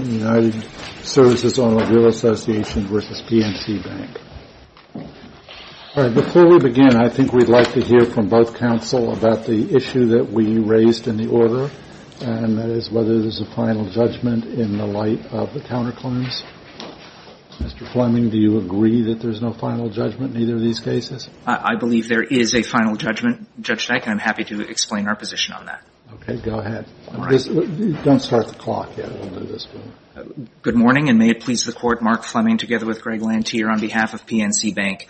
Before we begin, I think we'd like to hear from both counsel about the issue that we raised in the order, and that is whether there's a final judgment in the light of the counterclaims. Mr. Fleming, do you agree that there's no final judgment in either of these cases? I believe there is a final judgment, Judge Dyke, and I'm happy to explain our position on that. Okay, go ahead. Don't start the clock yet. We'll do this one. Good morning, and may it please the Court, Mark Fleming together with Greg Lantier on behalf of PNC Bank.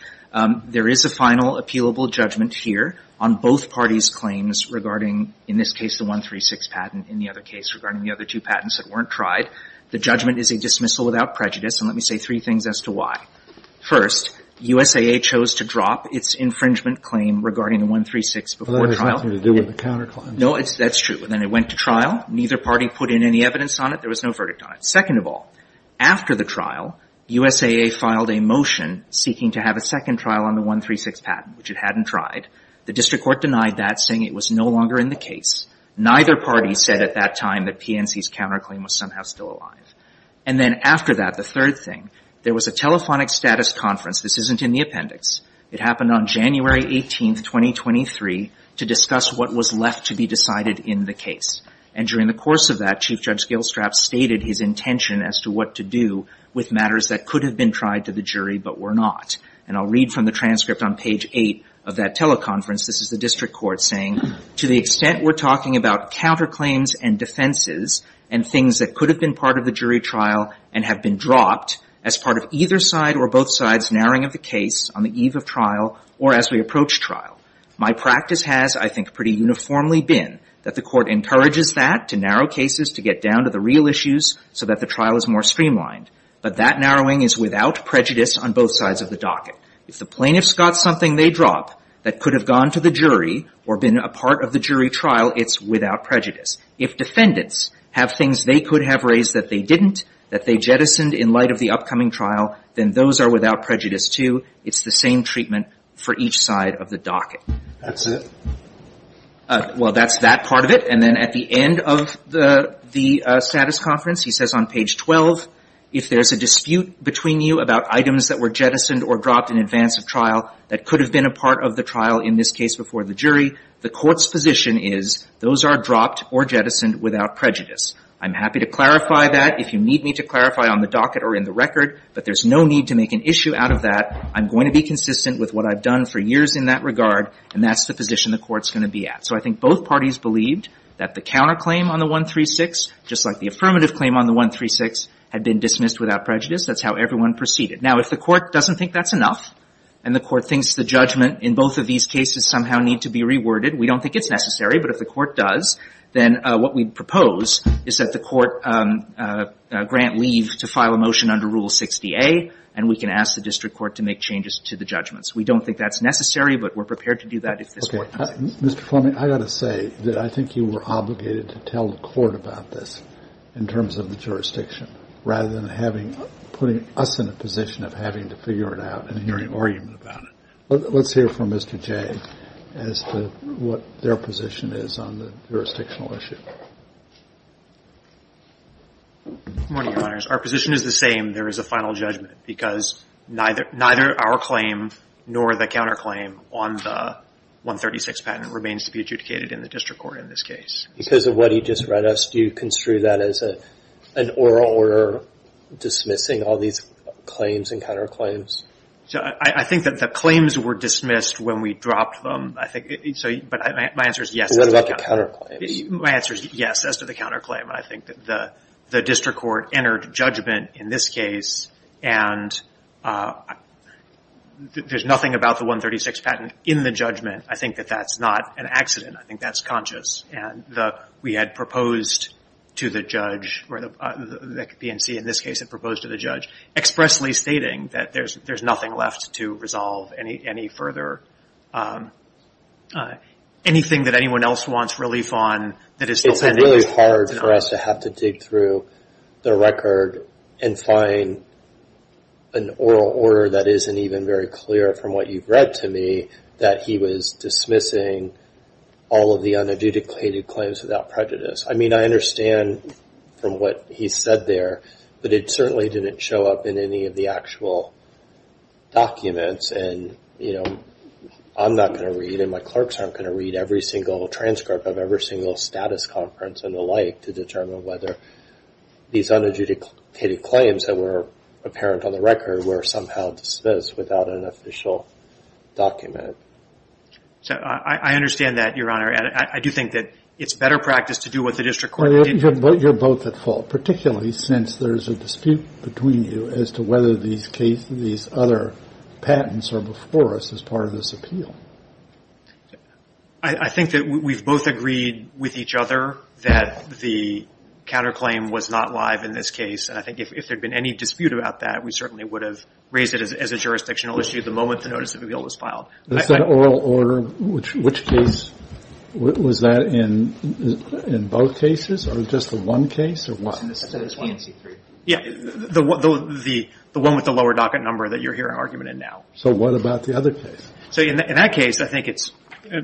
There is a final appealable judgment here on both parties' claims regarding, in this case, the 136 patent, in the other case, regarding the other two patents that weren't tried. The judgment is a dismissal without prejudice, and let me say three things as to why. First, USAA chose to drop its infringement claim regarding the 136 before trial. No, that's true. And then it went to trial. Neither party put in any evidence on it. There was no verdict on it. Second of all, after the trial, USAA filed a motion seeking to have a second trial on the 136 patent, which it hadn't tried. The district court denied that, saying it was no longer in the case. Neither party said at that time that PNC's counterclaim was somehow still alive. And then after that, the third thing, there was a telephonic status conference. This isn't in the appendix. It happened on January 18, 2023, to discuss what was left to be decided in the case. And during the course of that, Chief Judge Gilstrap stated his intention as to what to do with matters that could have been tried to the jury but were not. And I'll read from the transcript on page 8 of that teleconference. This is the district court saying, To the extent we're talking about counterclaims and defenses and things that could have been part of the jury trial and have been dropped as part of either side or both sides narrowing of the case on the eve of trial or as we approach trial. My practice has, I think, pretty uniformly been that the court encourages that, to narrow cases, to get down to the real issues so that the trial is more streamlined. But that narrowing is without prejudice on both sides of the docket. If the plaintiffs got something they drop that could have gone to the jury or been a part of the jury trial, it's without prejudice. If defendants have things they could have raised that they didn't, that they jettisoned in light of the upcoming trial, then those are without prejudice, too. It's the same treatment for each side of the docket. That's it? Well, that's that part of it. And then at the end of the status conference, he says on page 12, if there's a dispute between you about items that were jettisoned or dropped in advance of trial that could have been a part of the trial, in this case before the jury, the court's position is those are dropped or jettisoned without prejudice. I'm happy to clarify that if you need me to clarify on the docket or in the record, but there's no need to make an issue out of that. I'm going to be consistent with what I've done for years in that regard, and that's the position the court's going to be at. So I think both parties believed that the counterclaim on the 136, just like the affirmative claim on the 136, had been dismissed without prejudice. That's how everyone proceeded. Now, if the court doesn't think that's enough, and the court thinks the judgment in both of these cases somehow need to be reworded, we don't think it's necessary. But if the court does, then what we propose is that the court grant leave to file a motion under Rule 60A, and we can ask the district court to make changes to the judgments. We don't think that's necessary, but we're prepared to do that if this works. Mr. Fleming, I've got to say that I think you were obligated to tell the court about this in terms of the jurisdiction, rather than putting us in a position of having to figure it out and hearing argument about it. Let's hear from Mr. Jay as to what their position is on the jurisdictional issue. Good morning, Your Honors. Our position is the same. There is a final judgment, because neither our claim nor the counterclaim on the 136 patent remains to be adjudicated in the district court in this case. Because of what he just read us, do you construe that as an oral order dismissing all these claims and counterclaims? I think that the claims were dismissed when we dropped them. But my answer is yes. What about the counterclaims? My answer is yes, as to the counterclaim. I think that the district court entered judgment in this case, and there's nothing about the 136 patent in the judgment. I think that that's not an accident. I think that's conscious. It's really hard for us to have to dig through the record and find an oral order that isn't even very clear from what you've read to me that he was dismissing all of the unadjudicated claims. I mean, I understand from what he said there, but it certainly didn't show up in any of the actual documents. And, you know, I'm not going to read and my clerks aren't going to read every single transcript of every single status conference and the like to determine whether these unadjudicated claims that were apparent on the record were somehow dismissed without an official document. I understand that, Your Honor. And I do think that it's better practice to do what the district court did. But you're both at fault, particularly since there's a dispute between you as to whether these cases, these other patents are before us as part of this appeal. I think that we've both agreed with each other that the counterclaim was not live in this case. And I think if there had been any dispute about that, we certainly would have raised it as a jurisdictional issue the moment the notice of appeal was filed. Is that oral order? Which case was that in? In both cases or just the one case or what? The one with the lower docket number that you're hearing argument in now. So what about the other case? So in that case, I think it's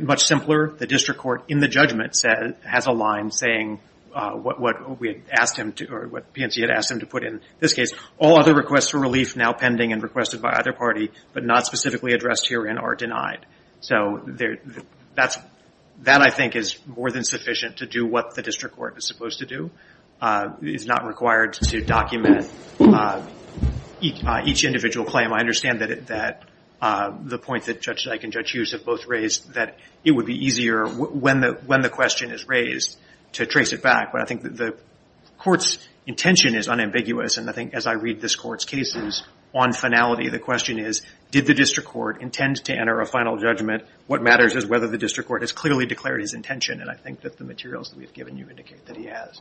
much simpler. The district court in the judgment has a line saying what we asked him to or what PNC had asked him to put in this case. All other requests for relief now pending and requested by either party but not specifically addressed herein are denied. So that, I think, is more than sufficient to do what the district court is supposed to do. It's not required to document each individual claim. I understand that the point that Judge Dyke and Judge Hughes have both raised that it would be easier when the question is raised to trace it back. But I think the court's intention is unambiguous. And I think as I read this court's cases, on finality, the question is, did the district court intend to enter a final judgment? What matters is whether the district court has clearly declared his intention. And I think that the materials that we've given you indicate that he has.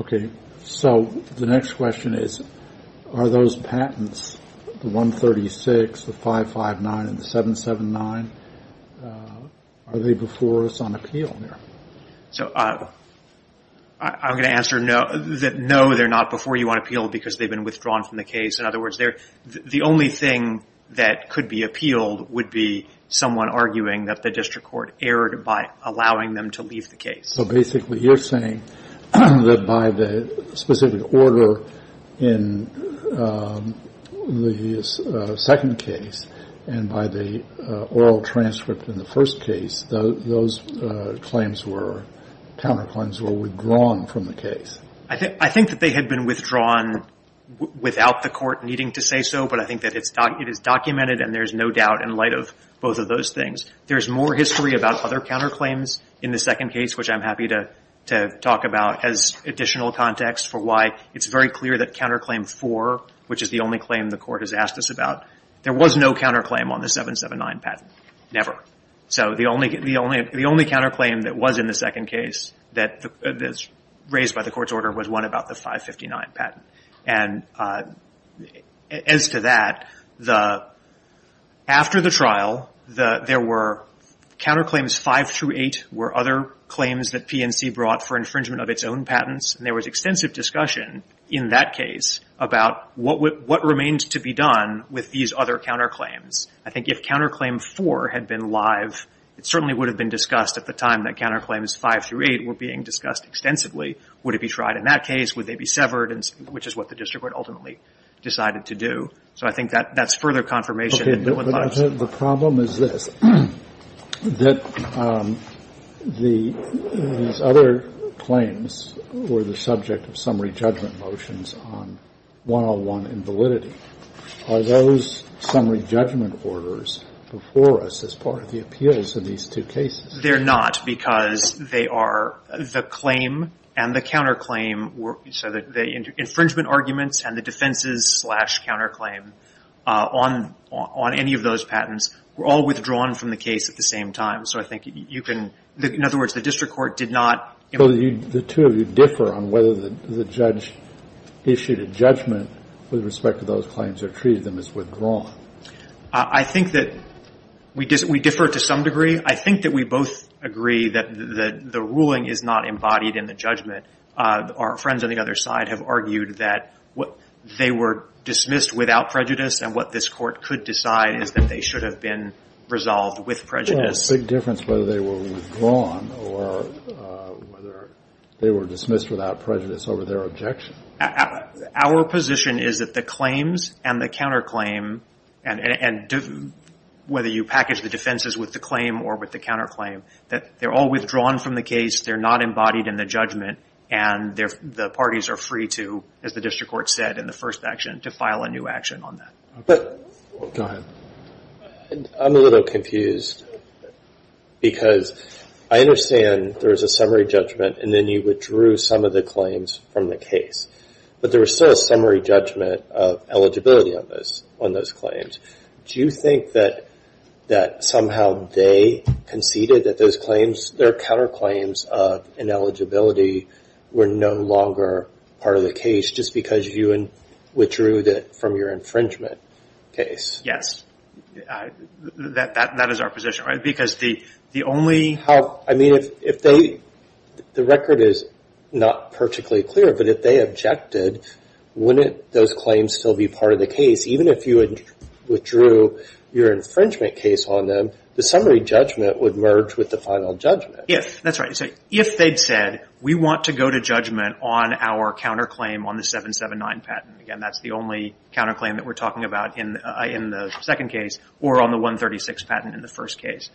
Okay. So the next question is, are those patents, the 136, the 559, and the 779, are they before us on appeal here? So I'm going to answer no, they're not before you on appeal because they've been withdrawn from the case. In other words, the only thing that could be appealed would be someone arguing that the district court erred by allowing them to leave the case. So basically you're saying that by the specific order in the second case and by the oral transcript in the first case, those claims were, counterclaims were withdrawn from the case? I think that they had been withdrawn without the court needing to say so. But I think that it is documented and there's no doubt in light of both of those things. There's more history about other counterclaims in the second case, which I'm happy to talk about as additional context for why it's very clear that counterclaim four, which is the only claim the court has asked us about, there was no counterclaim on the 779 patent. Never. So the only counterclaim that was in the second case that was raised by the court's order was one about the 559 patent. And as to that, after the trial, there were counterclaims five through eight were other claims that PNC brought for infringement of its own patents. And there was extensive discussion in that case about what remained to be done with these other counterclaims. I think if counterclaim four had been live, it certainly would have been discussed at the time that counterclaims five through eight were being discussed extensively. Would it be tried in that case? Would they be severed? Which is what the district court ultimately decided to do. So I think that's further confirmation. The problem is this, that these other claims were the subject of summary judgment motions on 101 in validity. Are those summary judgment orders before us as part of the appeals in these two cases? They're not, because they are the claim and the counterclaim. So the infringement arguments and the defenses slash counterclaim on any of those patents were all withdrawn from the case at the same time. So I think you can — in other words, the district court did not — So the two of you differ on whether the judge issued a judgment with respect to those claims or treated them as withdrawn. I think that we differ to some degree. I think that we both agree that the ruling is not embodied in the judgment. Our friends on the other side have argued that they were dismissed without prejudice, and what this Court could decide is that they should have been resolved with prejudice. It doesn't make a big difference whether they were withdrawn or whether they were dismissed without prejudice over their objection. Our position is that the claims and the counterclaim, and whether you package the defenses with the claim or with the counterclaim, that they're all withdrawn from the case, they're not embodied in the judgment, and the parties are free to, as the district court said in the first action, to file a new action on that. Go ahead. I'm a little confused because I understand there was a summary judgment, and then you withdrew some of the claims from the case, but there was still a summary judgment of eligibility on those claims. Do you think that somehow they conceded that those claims, their counterclaims of ineligibility, were no longer part of the case just because you withdrew them from your infringement case? Yes. That is our position, right? Because the only... I mean, if they, the record is not particularly clear, but if they objected, wouldn't those claims still be part of the case? Even if you withdrew your infringement case on them, the summary judgment would merge with the final judgment. Yes, that's right. So if they'd said, we want to go to judgment on our counterclaim on the 779 patent, again, that's the only counterclaim that we're talking about in the second case, or on the 136 patent in the first case.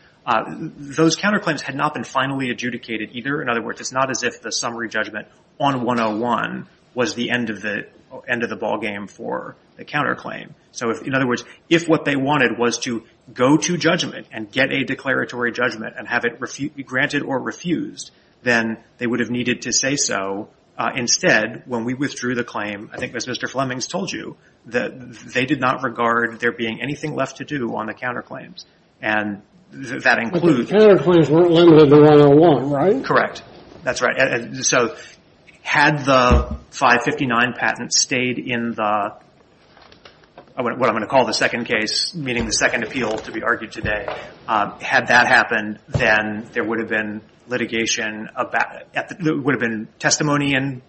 Those counterclaims had not been finally adjudicated either. In other words, it's not as if the summary judgment on 101 was the end of the ballgame for the counterclaim. So in other words, if what they wanted was to go to judgment and get a declaratory judgment and have it be granted or refused, then they would have needed to say so. Now, instead, when we withdrew the claim, I think as Mr. Flemings told you, they did not regard there being anything left to do on the counterclaims. And that includes... But the counterclaims weren't limited to 101, right? Correct. That's right. So had the 559 patent stayed in the, what I'm going to call the second case, meaning the second appeal to be argued today, had that happened, then there would have been litigation about it. There would have been testimony in...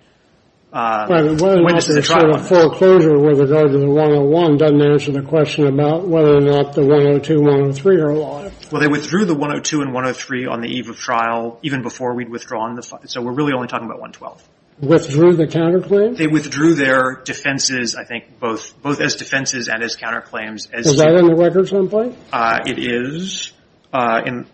Whether or not there's a foreclosure with regard to the 101 doesn't answer the question about whether or not the 102, 103 are alive. Well, they withdrew the 102 and 103 on the eve of trial, even before we'd withdrawn the... So we're really only talking about 112. Withdrew the counterclaims? They withdrew their defenses, I think, both as defenses and as counterclaims. Is that in the records on point? It is. Sorry.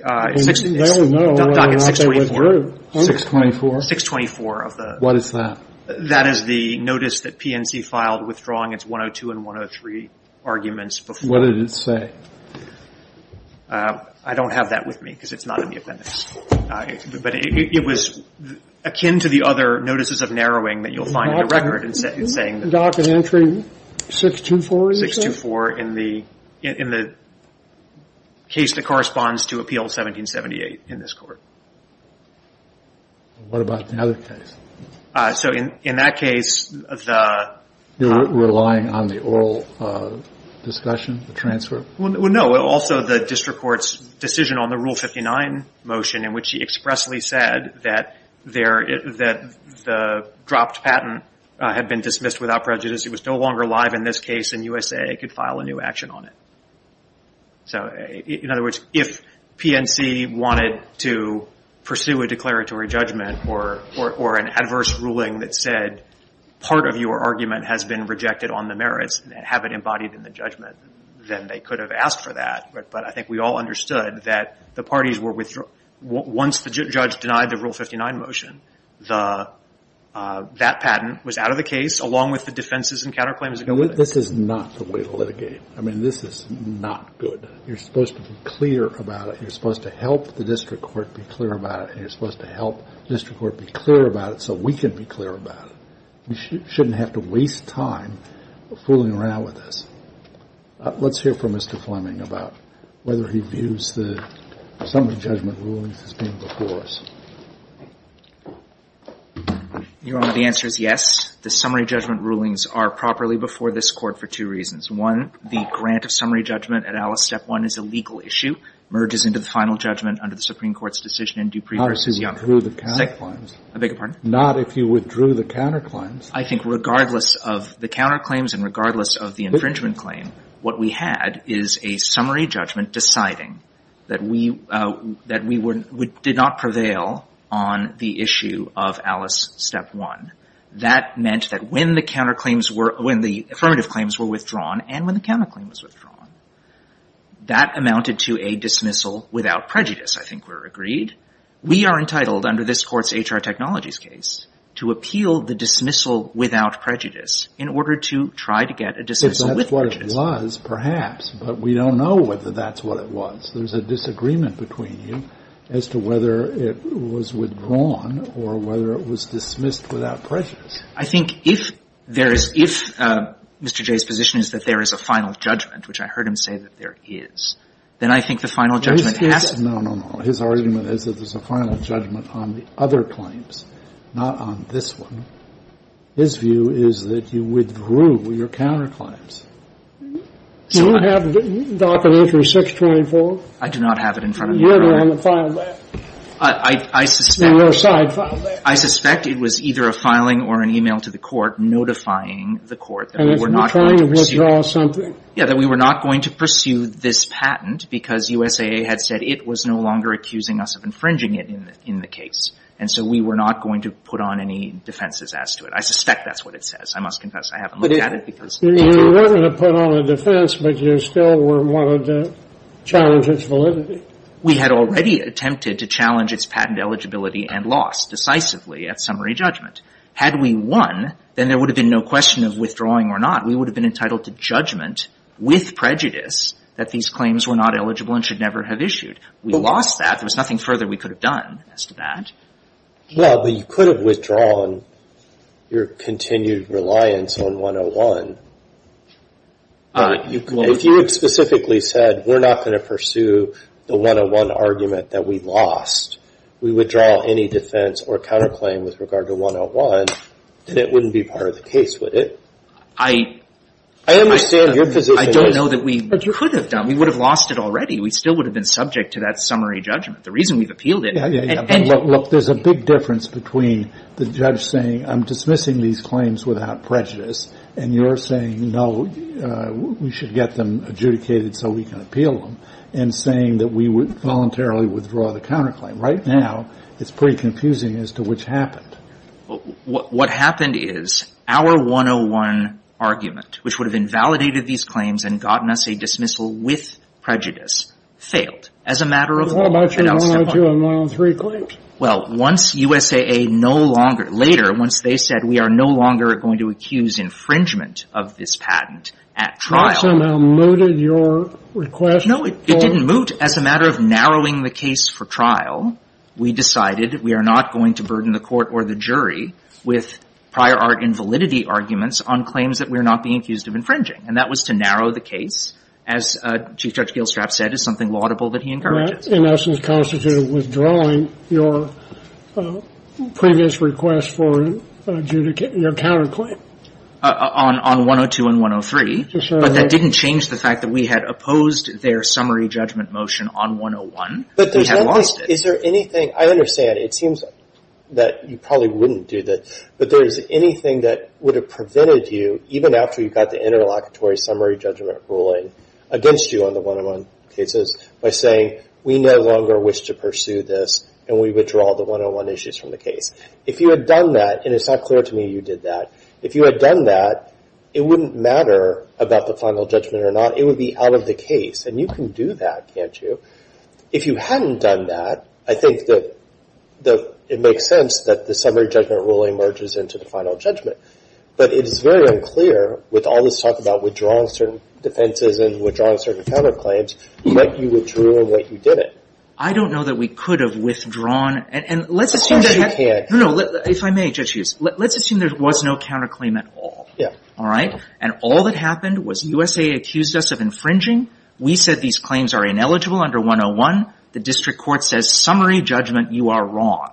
Doc, it's 624. 624? 624 of the... What is that? That is the notice that PNC filed withdrawing its 102 and 103 arguments before... What did it say? I don't have that with me because it's not in the appendix. But it was akin to the other notices of narrowing that you'll find in the record, saying that... Doc, is entry 624? 624 in the case that corresponds to Appeal 1778 in this Court. What about the other case? So in that case, the... You're relying on the oral discussion, the transfer? Well, no. Also, the district court's decision on the Rule 59 motion, in which he expressly said that the dropped patent had been dismissed without prejudice. It was no longer live in this case, and USA could file a new action on it. In other words, if PNC wanted to pursue a declaratory judgment or an adverse ruling that said part of your argument has been rejected on the merits and have it embodied in the judgment, then they could have asked for that. But I think we all understood that the parties were withdraw... Once the judge denied the Rule 59 motion, that patent was out of the case along with the defenses and counterclaims. This is not the way to litigate. I mean, this is not good. You're supposed to be clear about it. You're supposed to help the district court be clear about it, and you're supposed to help district court be clear about it so we can be clear about it. You shouldn't have to waste time fooling around with this. Let's hear from Mr. Fleming about whether he views the summary judgment rulings as being before us. Your Honor, the answer is yes. The summary judgment rulings are properly before this Court for two reasons. One, the grant of summary judgment at Alice Step 1 is a legal issue, merges into the final judgment under the Supreme Court's decision in Dupree v. Young. Not if you withdrew the counterclaims. I beg your pardon? Not if you withdrew the counterclaims. I think regardless of the counterclaims and regardless of the infringement claim, what we had is a summary judgment deciding that we did not prevail on the issue of Alice Step 1. That meant that when the affirmative claims were withdrawn and when the counterclaim was withdrawn, that amounted to a dismissal without prejudice, I think we're agreed. We are entitled, under this Court's H.R. Technologies case, to appeal the dismissal without prejudice in order to try to get a dismissal with prejudice. If that's what it was, perhaps. But we don't know whether that's what it was. There's a disagreement between you as to whether it was withdrawn or whether it was dismissed without prejudice. I think if there is — if Mr. Jay's position is that there is a final judgment, which I heard him say that there is, then I think the final judgment has to be — No, no, no. His argument is that there's a final judgment on the other claims, not on this one. His view is that you withdrew your counterclaims. So I — Do you have the document for 624? I do not have it in front of me, Your Honor. You have it on the file there. I suspect — In your side file there. I suspect it was either a filing or an e-mail to the Court notifying the Court that we were not going to pursue — And it was withdrawing something. Yeah, that we were not going to pursue this patent because USAA had said it was no longer accusing us of infringing it in the case. And so we were not going to put on any defenses as to it. I suspect that's what it says. I must confess I haven't looked at it because — You wanted to put on a defense, but you still wanted to challenge its validity. We had already attempted to challenge its patent eligibility and loss decisively at summary judgment. Had we won, then there would have been no question of withdrawing or not. We would have been entitled to judgment with prejudice that these claims were not eligible and should never have issued. We lost that. There was nothing further we could have done as to that. Well, but you could have withdrawn your continued reliance on 101. If you had specifically said we're not going to pursue the 101 argument that we lost, we withdraw any defense or counterclaim with regard to 101, then it wouldn't be part of the case, would it? I — I understand your position. I don't know that we — But you could have done. We would have lost it already. We still would have been subject to that summary judgment. The reason we've appealed it — Yeah, yeah, yeah. Look, there's a big difference between the judge saying, I'm dismissing these claims without prejudice, and you're saying, no, we should get them adjudicated so we can appeal them, and saying that we would voluntarily withdraw the counterclaim. Right now, it's pretty confusing as to which happened. What happened is our 101 argument, which would have invalidated these claims and gotten us a dismissal with prejudice, failed. As a matter of — What about your 102 and 103 claims? Well, once USAA no longer — later, once they said we are no longer going to accuse infringement of this patent at trial — Well, it somehow mooted your request. No, it didn't moot. As a matter of narrowing the case for trial, we decided we are not going to burden the court or the jury with prior art invalidity arguments on claims that we are not being accused of infringing. And that was to narrow the case, as Chief Judge Gilstrap said, as something laudable that he encouraged us. That, in essence, constituted withdrawing your previous request for adjudicate — your counterclaim. On 102 and 103. To show that — It didn't change the fact that we had opposed their summary judgment motion on 101. We had lost it. Is there anything — I understand. It seems that you probably wouldn't do that. But is there anything that would have prevented you, even after you got the interlocutory summary judgment ruling against you on the 101 cases, by saying we no longer wish to pursue this and we withdraw the 101 issues from the case? If you had done that — and it's not clear to me you did that — if you had done that, it wouldn't matter about the final judgment or not. It would be out of the case. And you can do that, can't you? If you hadn't done that, I think that it makes sense that the summary judgment ruling merges into the final judgment. But it is very unclear, with all this talk about withdrawing certain defenses and withdrawing certain counterclaims, what you withdrew and what you didn't. I don't know that we could have withdrawn — Of course you can't. No, no. If I may, Judge Hughes, let's assume there was no counterclaim at all. All right? And all that happened was USA accused us of infringing. We said these claims are ineligible under 101. The district court says, summary judgment, you are wrong.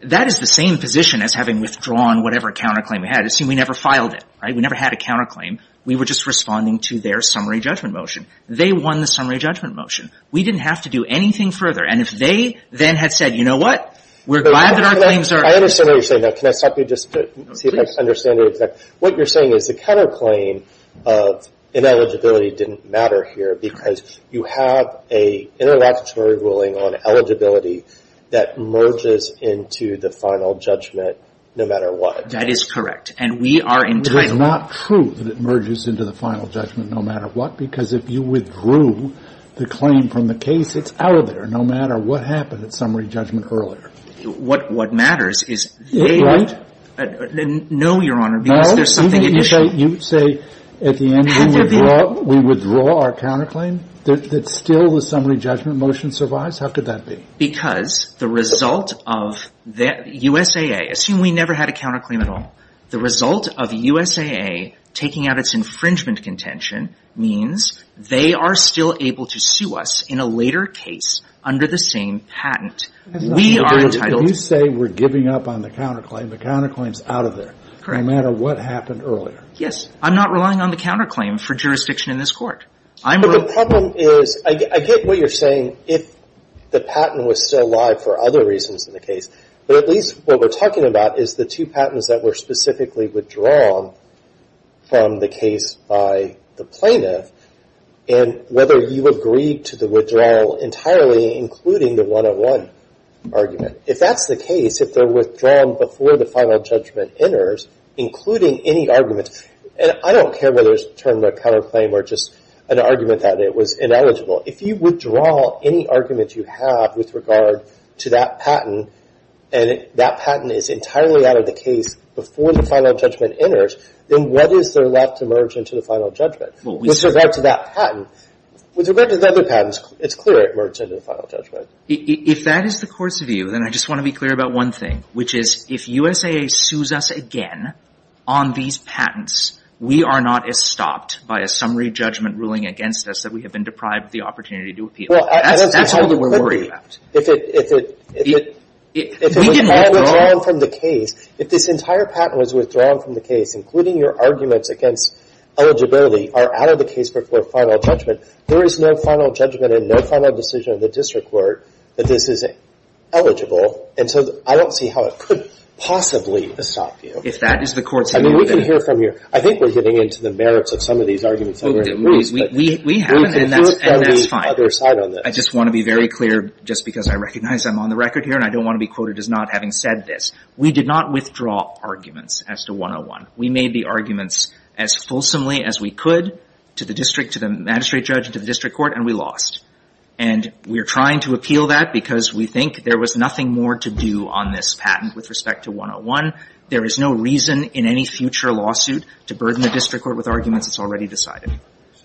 That is the same position as having withdrawn whatever counterclaim we had. Assume we never filed it. Right? We never had a counterclaim. We were just responding to their summary judgment motion. They won the summary judgment motion. We didn't have to do anything further. And if they then had said, you know what, we're glad that our claims are — I understand what you're saying. Now, can I stop you just to see if I understand it exactly? What you're saying is the counterclaim of ineligibility didn't matter here, because you have an interlocutory ruling on eligibility that merges into the final judgment no matter what. That is correct. And we are entitled — It is not true that it merges into the final judgment no matter what, because if you withdrew the claim from the case, it's out of there no matter what happened at summary judgment earlier. What matters is they — Right? No, Your Honor, because there's something at issue. You say at the end we withdraw our counterclaim? That still the summary judgment motion survives? How could that be? Because the result of the — USAA. Assume we never had a counterclaim at all. The result of USAA taking out its infringement contention means they are still able to sue us in a later case under the same patent. We are entitled — If you say we're giving up on the counterclaim, the counterclaim's out of there. Correct. No matter what happened earlier. Yes. I'm not relying on the counterclaim for jurisdiction in this Court. I'm — But the problem is — I get what you're saying if the patent was still alive for other reasons in the case, but at least what we're talking about is the two patents that were specifically withdrawn from the case by the plaintiff and whether you agreed to the withdrawal entirely including the 101 argument. If that's the case, if they're withdrawn before the final judgment enters, including any argument — and I don't care whether it's termed a counterclaim or just an argument that it was ineligible. If you withdraw any argument you have with regard to that patent, and that patent is entirely out of the case before the final judgment enters, then what is there left to merge into the final judgment? With regard to that patent, with regard to the other patents, it's clear it merged into the final judgment. If that is the Court's view, then I just want to be clear about one thing, which is if USAA sues us again on these patents, we are not estopped by a summary judgment ruling against us that we have been deprived of the opportunity to appeal. That's all that we're worried about. If it — We didn't withdraw. If it was all withdrawn from the case, if this entire patent was withdrawn from the case, including your arguments against eligibility, are out of the case before final judgment, there is no final judgment and no final decision of the district court that this is eligible. And so I don't see how it could possibly estop you. If that is the Court's view, then — I mean, we can hear from you. I think we're getting into the merits of some of these arguments that we're going to lose, but — We haven't, and that's fine. We can hear it from the other side on this. I just want to be very clear, just because I recognize I'm on the record here and I don't want to be quoted as not having said this. We did not withdraw arguments as to 101. We made the arguments as fulsomely as we could to the district, to the magistrate judge, and to the district court, and we lost. And we're trying to appeal that because we think there was nothing more to do on this patent with respect to 101. There is no reason in any future lawsuit to burden the district court with arguments that's already decided.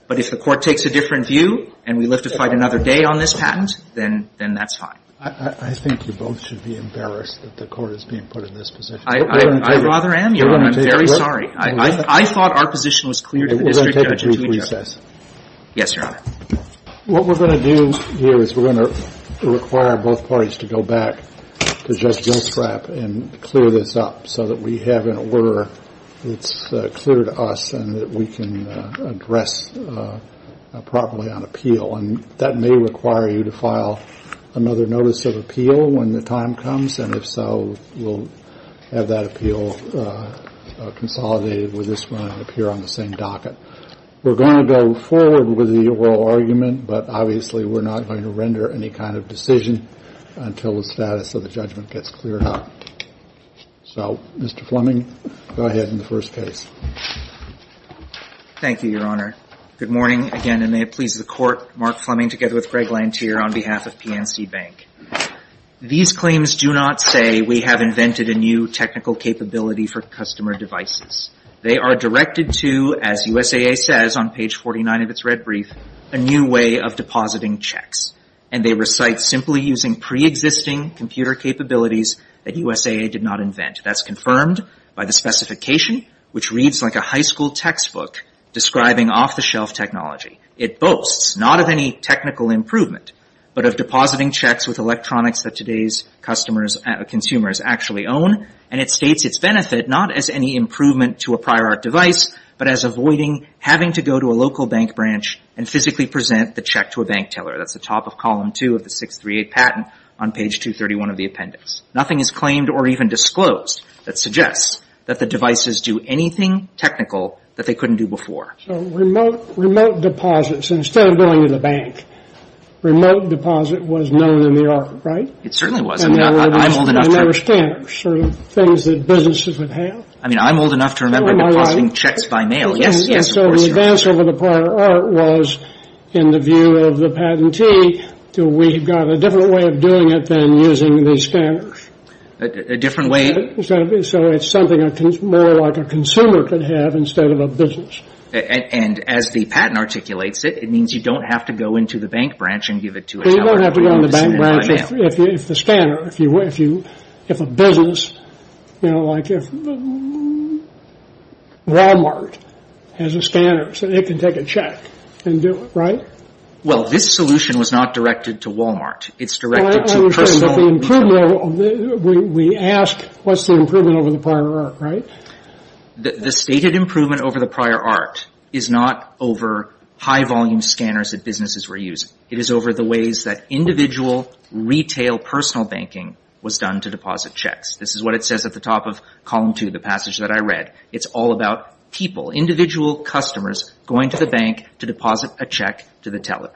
But if the Court takes a different view and we live to fight another day on this patent, then that's fine. I think you both should be embarrassed that the Court is being put in this position. I rather am. I'm very sorry. I thought our position was clear to the district judge and to each other. We're going to take a brief recess. Yes, Your Honor. What we're going to do here is we're going to require both parties to go back to Judge so that we have an order that's clear to us and that we can address properly on appeal. And that may require you to file another notice of appeal when the time comes, and if so, we'll have that appeal consolidated with this one up here on the same docket. We're going to go forward with the oral argument, but obviously we're not going to render any kind of decision until the status of the judgment gets cleared up. So, Mr. Fleming, go ahead in the first case. Thank you, Your Honor. Good morning again, and may it please the Court. Mark Fleming together with Greg Lanthier on behalf of PNC Bank. These claims do not say we have invented a new technical capability for customer devices. They are directed to, as USAA says on page 49 of its red brief, a new way of depositing checks, and they recite simply using preexisting computer capabilities that USAA did not invent. That's confirmed by the specification, which reads like a high school textbook, describing off-the-shelf technology. It boasts not of any technical improvement, but of depositing checks with electronics that today's consumers actually own, and it states its benefit not as any improvement to a prior art device, but as avoiding having to go to a local bank branch and physically present the check to a bank teller. That's the top of column two of the 638 patent on page 231 of the appendix. Nothing is claimed or even disclosed that suggests that the devices do anything technical that they couldn't do before. So remote deposits, instead of going to the bank, remote deposit was known in New York, right? It certainly was. I mean, I'm old enough to remember depositing checks by mail. Yes, yes, of course. And so the advance over the prior art was, in the view of the patentee, we've got a different way of doing it than using these scanners. A different way? So it's something more like a consumer could have instead of a business. And as the patent articulates it, it means you don't have to go into the bank branch and give it to a teller. So you don't have to go to the bank branch if the scanner, if a business, you know, like if Wal-Mart has a scanner so they can take a check and do it, right? Well, this solution was not directed to Wal-Mart. It's directed to personal. We ask what's the improvement over the prior art, right? The stated improvement over the prior art is not over high volume scanners that businesses were using. It is over the ways that individual retail personal banking was done to deposit checks. This is what it says at the top of column two, the passage that I read. It's all about people, individual customers going to the bank to deposit a check to the teller.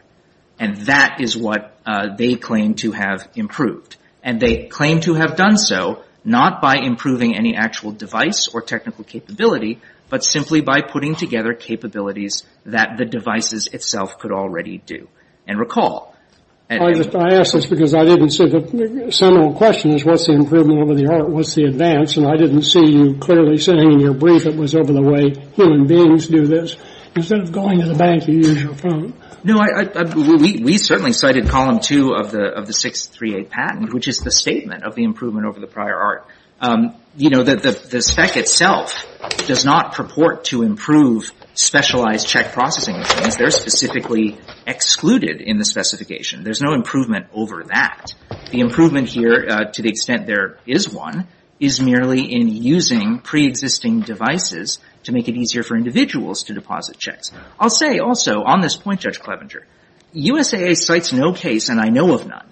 And that is what they claim to have improved. And they claim to have done so not by improving any actual device or technical capability, but simply by putting together capabilities that the devices itself could already do. And recall. I ask this because I didn't see the general question is what's the improvement over the art? What's the advance? And I didn't see you clearly saying in your brief it was over the way human beings do this. Instead of going to the bank, you use your phone. No, we certainly cited column two of the 638 patent, which is the statement of the improvement over the prior art. You know, the spec itself does not purport to improve specialized check processing machines. They're specifically excluded in the specification. There's no improvement over that. The improvement here, to the extent there is one, is merely in using preexisting devices to make it easier for individuals to deposit checks. I'll say also on this point, Judge Clevenger, USAA cites no case, and I know of none,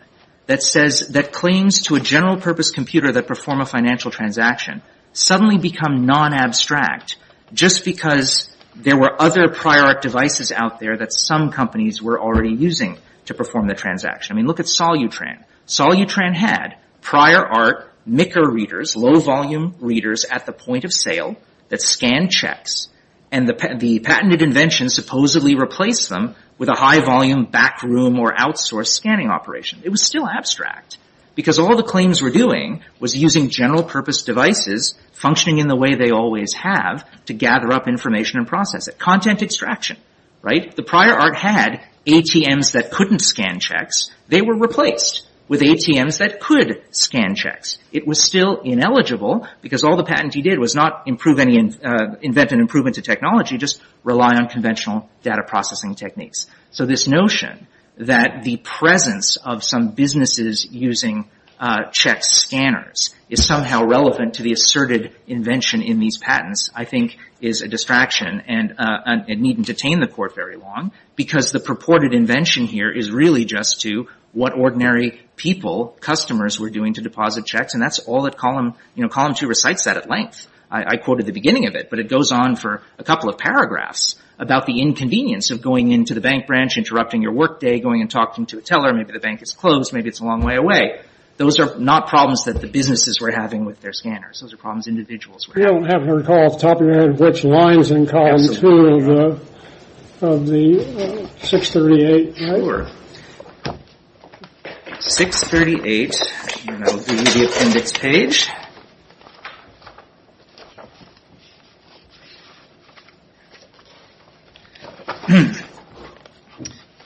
that says that claims to a general-purpose computer that perform a financial transaction suddenly become non-abstract just because there were other prior art devices out there that some companies were already using to perform the transaction. I mean, look at Solutran. Solutran had prior art, micker readers, low-volume readers at the point of sale that scanned checks, and the patented invention supposedly replaced them with a high-volume backroom or outsource scanning operation. It was still abstract because all the claims were doing was using general-purpose devices functioning in the way they always have to gather up information and process it. Content extraction, right? The prior art had ATMs that couldn't scan checks. They were replaced with ATMs that could scan checks. It was still ineligible because all the patent he did was not invent an improvement to technology, just rely on conventional data processing techniques. So this notion that the presence of some businesses using check scanners is somehow relevant to the asserted invention in these patents, I think, is a distraction and needn't detain the court very long because the purported invention here is really just to what ordinary people, customers, were doing to deposit checks, and that's all that Column 2 recites that at length. I quoted the beginning of it, but it goes on for a couple of paragraphs about the inconvenience of going into the bank branch, interrupting your work day, going and talking to a teller. Maybe the bank is closed. Maybe it's a long way away. Those are not problems that the businesses were having with their scanners. Those are problems individuals were having. I don't recall off the top of your head which lines in Column 2 of the 638. Sure. 638, and that will be the appendix page.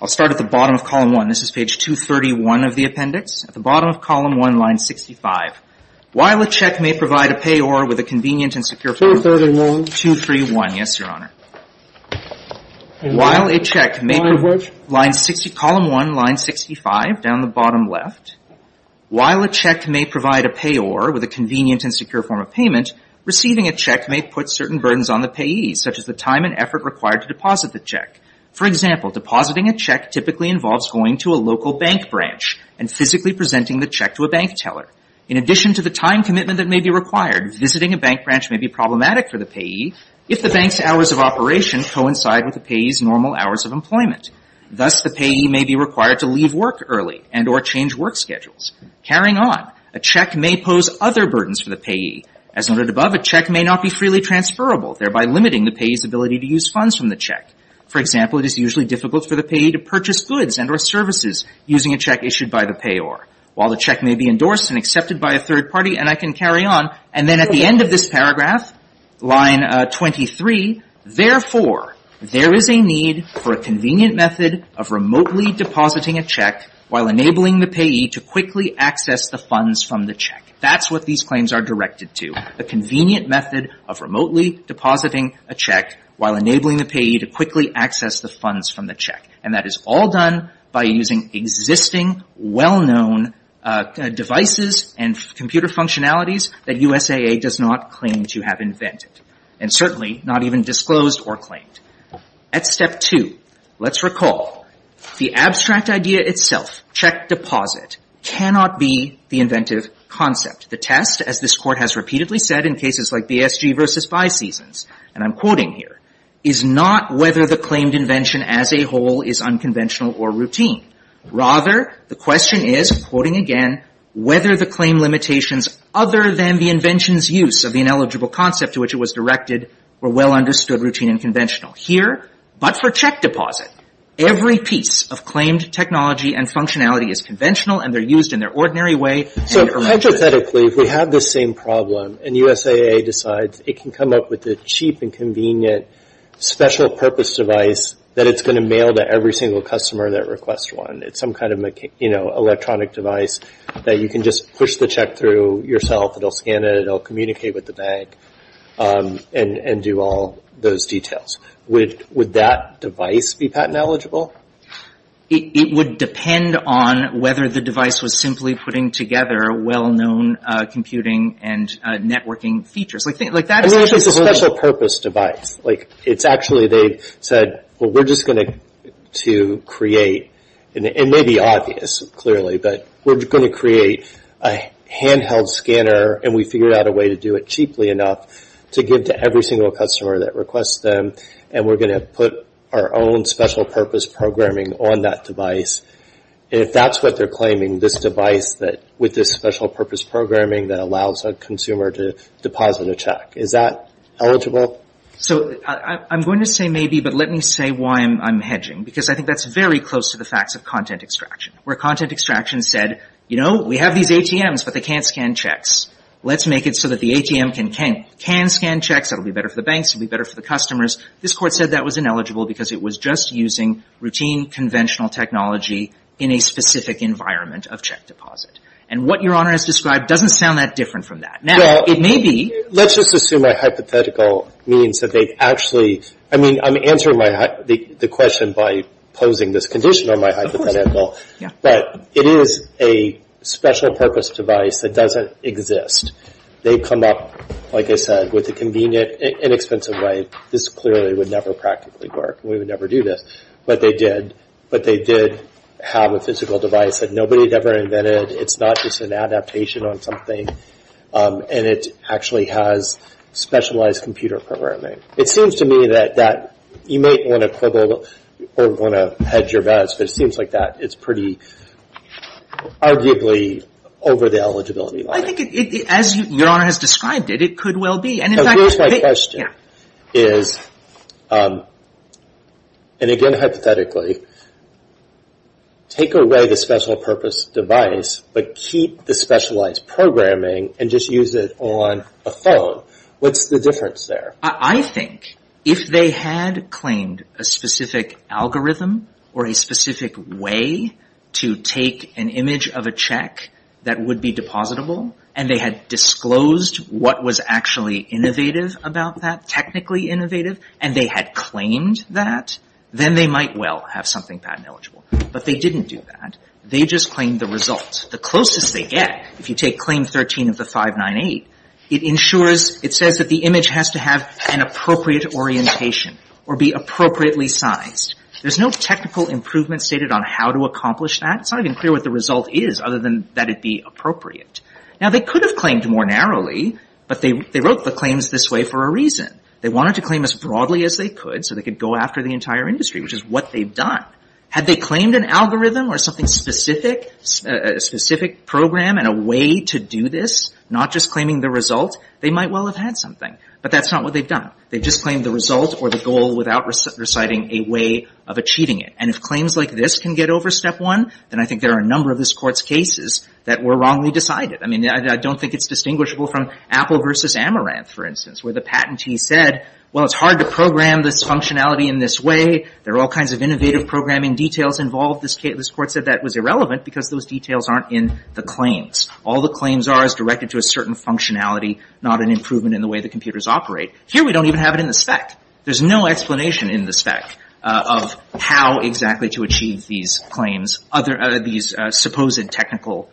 I'll start at the bottom of Column 1. This is page 231 of the appendix. At the bottom of Column 1, line 65. While a check may provide a payor with a convenient and secure form of payment. 231. 231, yes, Your Honor. And line which? Column 1, line 65, down the bottom left. While a check may provide a payor with a convenient and secure form of payment, receiving a check may put certain burdens on the payee, such as the time and effort required to deposit the check. For example, depositing a check typically involves going to a local bank branch and physically presenting the check to a bank teller. In addition to the time commitment that may be required, visiting a bank branch may be problematic for the payee if the bank's hours of operation coincide with the payee's normal hours of employment. Thus, the payee may be required to leave work early and or change work schedules. Carrying on, a check may pose other burdens for the payee. As noted above, a check may not be freely transferable, thereby limiting the payee's ability to use funds from the check. For example, it is usually difficult for the payee to purchase goods and or services using a check issued by the payor. While the check may be endorsed and accepted by a third party, and I can carry on, and then at the end of this paragraph, line 23, therefore, there is a need for a convenient method of remotely depositing a check while enabling the payee to quickly access the funds from the check. That's what these claims are directed to, a convenient method of remotely depositing a check while enabling the payee to quickly access the funds from the check. And that is all done by using existing well-known devices and computer functionalities that USAA does not claim to have invented and certainly not even disclosed or claimed. At step two, let's recall, the abstract idea itself, check deposit, cannot be the inventive concept. The test, as this Court has repeatedly said in cases like BSG v. Five Seasons, and I'm quoting here, is not whether the claimed invention as a whole is unconventional or routine. Rather, the question is, quoting again, whether the claim limitations other than the invention's use of the ineligible concept to which it was directed were well understood, routine, and conventional. Here, but for check deposit, every piece of claimed technology and functionality is conventional and they're used in their ordinary way. So hypothetically, if we have this same problem and USAA decides it can come up with a cheap and convenient special purpose device that it's going to mail to every single customer that requests one. It's some kind of electronic device that you can just push the check through yourself. It'll scan it. It'll communicate with the bank and do all those details. Would that device be patent eligible? It would depend on whether the device was simply putting together well-known computing and networking features. I mean, it's a special purpose device. Like, it's actually, they said, well, we're just going to create, and it may be obvious, clearly, but we're going to create a handheld scanner and we figured out a way to do it cheaply enough to give to every single customer that requests them and we're going to put our own special purpose programming on that device. And if that's what they're claiming, this device that, with this special purpose programming that allows a consumer to deposit a check, is that eligible? So I'm going to say maybe, but let me say why I'm hedging, because I think that's very close to the facts of content extraction, where content extraction said, you know, we have these ATMs, but they can't scan checks. Let's make it so that the ATM can scan checks. It'll be better for the banks. It'll be better for the customers. This Court said that was ineligible because it was just using routine, conventional technology in a specific environment of check deposit. And what Your Honor has described doesn't sound that different from that. Now, it may be. Let's just assume a hypothetical means that they actually, I mean, I'm answering the question by posing this condition on my hypothetical. But it is a special purpose device that doesn't exist. They've come up, like I said, with a convenient, inexpensive way. This clearly would never practically work. We would never do this. But they did. But they did have a physical device that nobody had ever invented. It's not just an adaptation on something. And it actually has specialized computer programming. It seems to me that you may want to quibble or want to hedge your bets, but it seems like that is pretty arguably over the eligibility line. Well, I think, as Your Honor has described it, it could well be. And, in fact, it could be. Here's my question. Yeah. And, again, hypothetically, take away the special purpose device but keep the specialized programming and just use it on a phone. What's the difference there? I think if they had claimed a specific algorithm or a specific way to take an image of a check that would be depositable and they had disclosed what was actually innovative about that, technically innovative, and they had claimed that, then they might well have something patent eligible. But they didn't do that. They just claimed the result. The closest they get, if you take Claim 13 of the 598, it ensures, it says that the image has to have an appropriate orientation or be appropriately sized. There's no technical improvement stated on how to accomplish that. It's not even clear what the result is other than that it be appropriate. Now, they could have claimed more narrowly, but they wrote the claims this way for a reason. They wanted to claim as broadly as they could so they could go after the entire industry, which is what they've done. Had they claimed an algorithm or something specific, a specific program and a way to do this, not just claiming the result, they might well have had something. But that's not what they've done. They've just claimed the result or the goal without reciting a way of achieving it. And if claims like this can get over Step 1, then I think there are a number of this Court's cases that were wrongly decided. I mean, I don't think it's distinguishable from Apple v. Amaranth, for instance, where the patentee said, well, it's hard to program this functionality in this way. There are all kinds of innovative programming details involved. This Court said that was irrelevant because those details aren't in the claims. All the claims are is directed to a certain functionality, not an improvement in the way the computers operate. Here we don't even have it in the spec. There's no explanation in the spec of how exactly to achieve these claims, these supposed technical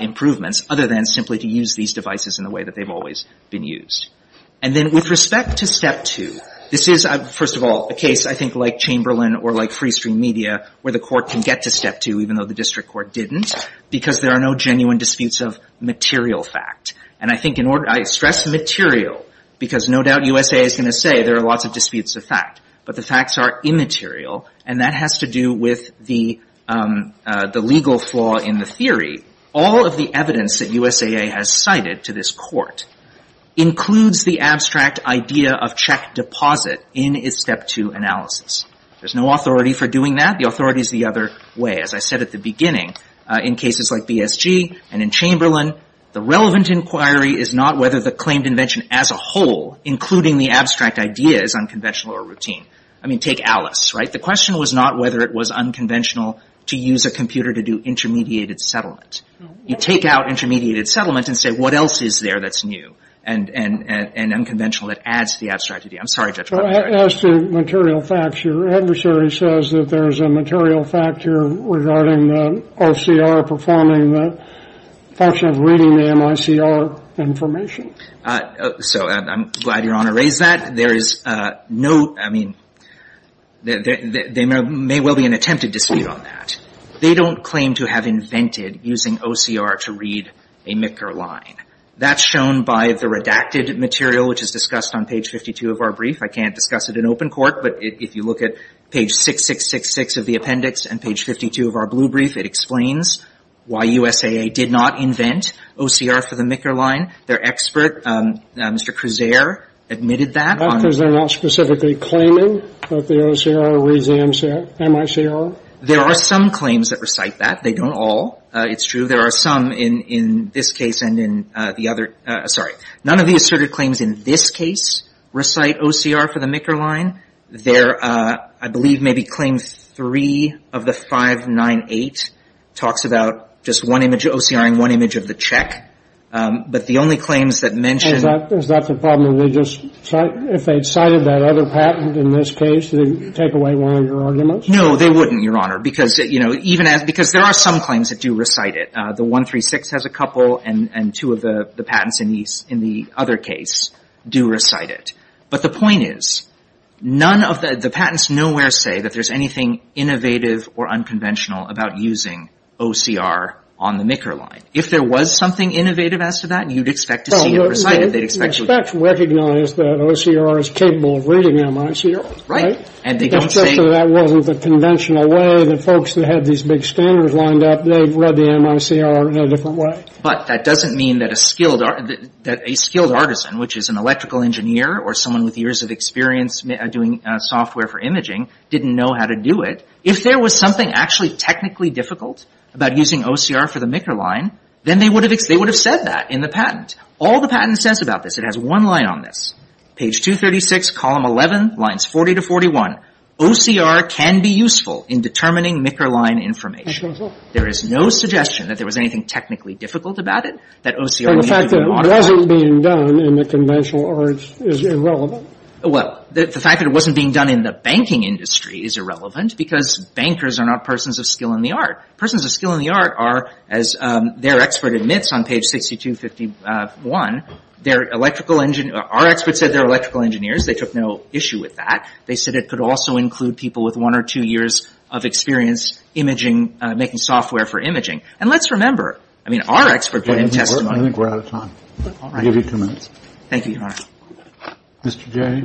improvements, other than simply to use these devices in the way that they've always been used. And then with respect to Step 2, this is, first of all, a case I think like Chamberlain or like Freestream Media where the Court can get to Step 2, even though the District Court didn't, because there are no genuine disputes of material fact. And I think in order, I stress material, because no doubt USAA is going to say there are lots of disputes of fact, but the facts are immaterial, and that has to do with the legal flaw in the theory. All of the evidence that USAA has cited to this Court includes the abstract idea of check deposit in its Step 2 analysis. There's no authority for doing that. The authority is the other way. As I said at the beginning, in cases like BSG and in Chamberlain, the relevant inquiry is not whether the claimed invention as a whole, including the abstract idea, is unconventional or routine. I mean, take Alice, right? The question was not whether it was unconventional to use a computer to do intermediated settlement. You take out intermediated settlement and say, what else is there that's new and unconventional that adds to the abstract idea? I'm sorry, Judge Bartlett. As to material facts, your adversary says that there's a material fact here regarding the OCR performing the function of reading the MICR information. So I'm glad Your Honor raised that. There is no – I mean, there may well be an attempted dispute on that. They don't claim to have invented using OCR to read a MICR line. That's shown by the redacted material, which is discussed on page 52 of our brief. I can't discuss it in open court, but if you look at page 6666 of the appendix and page 52 of our blue brief, it explains why USAA did not invent OCR for the MICR line. Their expert, Mr. Krizere, admitted that. Are there not specifically claiming that the OCR reads the MICR? There are some claims that recite that. They don't all. It's true there are some in this case and in the other – sorry. None of the asserted claims in this case recite OCR for the MICR line. There are, I believe, maybe claim 3 of the 598 talks about just one image of OCR and one image of the check. But the only claims that mention – Is that the problem? They just – if they'd cited that other patent in this case, they'd take away one of your arguments? No, they wouldn't, Your Honor, because, you know, even as – because there are some claims that do recite it. The 136 has a couple, and two of the patents in the other case do recite it. But the point is, none of the – the patents nowhere say that there's anything innovative or unconventional about using OCR on the MICR line. If there was something innovative as to that, you'd expect to see it recited. They'd expect – Well, they expect to recognize that OCR is capable of reading MICR. Right. And they don't say – Especially if that wasn't the conventional way. The folks that had these big standards lined up, they'd read the MICR in a different way. But that doesn't mean that a skilled – that a skilled artisan, which is an electrical engineer or someone with years of experience doing software for imaging, didn't know how to do it. If there was something actually technically difficult about using OCR for the MICR line, then they would have – they would have said that in the patent. All the patent says about this – it has one line on this. Page 236, Column 11, Lines 40 to 41, OCR can be useful in determining MICR line information. That's right. There is no suggestion that there was anything technically difficult about it, that OCR – But the fact that it wasn't being done in the conventional arts is irrelevant. Well, the fact that it wasn't being done in the banking industry is irrelevant because bankers are not persons of skill in the art. Persons of skill in the art are, as their expert admits on page 6251, their electrical – our expert said they're electrical engineers. They took no issue with that. They said it could also include people with one or two years of experience imaging – making software for imaging. And let's remember – I mean, our expert put in testimony – I think we're out of time. All right. I'll give you two minutes. Thank you, Your Honor. Mr. Jay?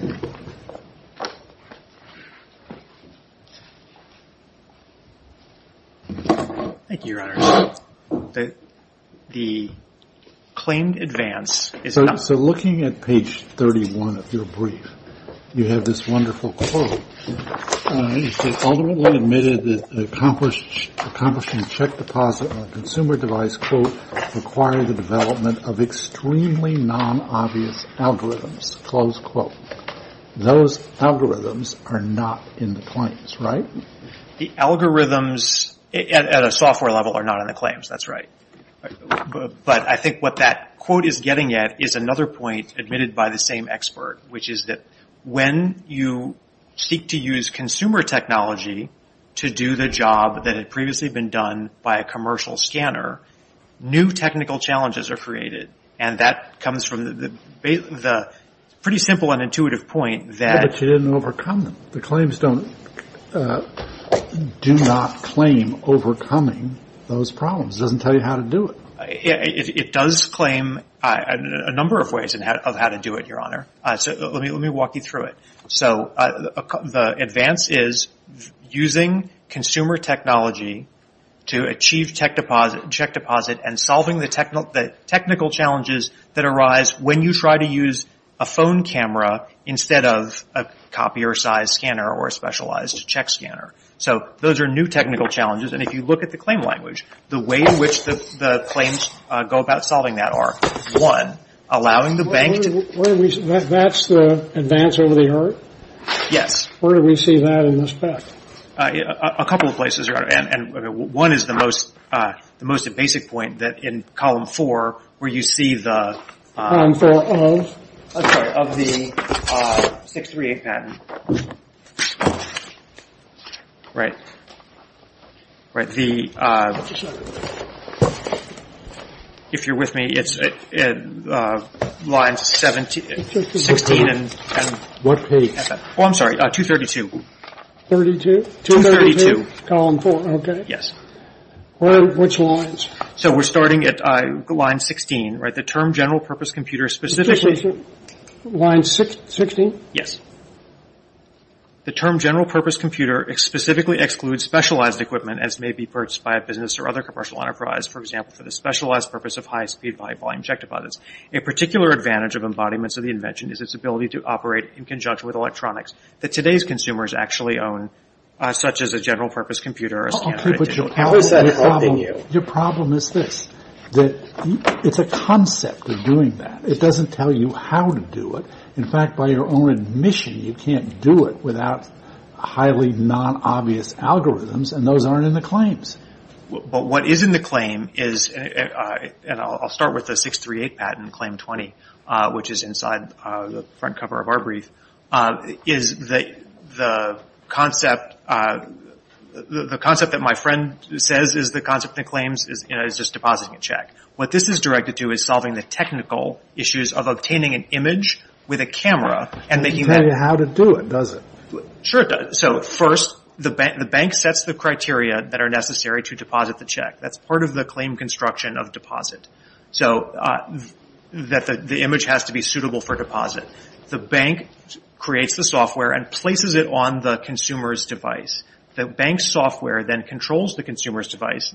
Thank you, Your Honor. The claimed advance is not – So looking at page 31 of your brief, you have this wonderful quote. It says, Ultimately admitted that accomplishing a check deposit on a consumer device, required the development of extremely non-obvious algorithms, close quote. Those algorithms are not in the claims, right? The algorithms at a software level are not in the claims. That's right. But I think what that quote is getting at is another point admitted by the same expert, which is that when you seek to use consumer technology to do the job that had previously been done by a commercial scanner, new technical challenges are created. And that comes from the pretty simple and intuitive point that – But you didn't overcome them. The claims don't – do not claim overcoming those problems. It doesn't tell you how to do it. It does claim a number of ways of how to do it, Your Honor. So let me walk you through it. So the advance is using consumer technology to achieve check deposit and solving the technical challenges that arise when you try to use a phone camera instead of a copier-sized scanner or a specialized check scanner. So those are new technical challenges. And if you look at the claim language, the way in which the claims go about solving that are, one, allowing the bank to – That's the advance over the art? Yes. Where do we see that in this patent? A couple of places, Your Honor. And one is the most basic point that in Column 4 where you see the – Column 4 of? I'm sorry, of the 638 patent. Right. Right. The – if you're with me, it's lines 17 – 16 and – What page? Oh, I'm sorry, 232. 32? 232. Column 4, okay. Yes. Which lines? So we're starting at line 16, right? The term general purpose computer specifically – Line 16? Yes. The term general purpose computer specifically excludes specialized equipment as may be purchased by a business or other commercial enterprise, for example, for the specialized purpose of high-speed high-volume check deposits. A particular advantage of embodiments of the invention is its ability to operate in conjunction with electronics that today's consumers actually own, such as a general purpose computer or a scanner. Okay, but your problem – Who's that quoting you? Your problem is this, that it's a concept of doing that. It doesn't tell you how to do it. In fact, by your own admission, you can't do it without highly non-obvious algorithms, and those aren't in the claims. But what is in the claim is – and I'll start with the 638 patent, Claim 20, which is inside the front cover of our brief – is the concept that my friend says is the concept in the claims is just depositing a check. What this is directed to is solving the technical issues of obtaining an image with a camera. It doesn't tell you how to do it, does it? Sure it does. So first, the bank sets the criteria that are necessary to deposit the check. That's part of the claim construction of deposit, so that the image has to be suitable for deposit. The bank creates the software and places it on the consumer's device. The bank's software then controls the consumer's device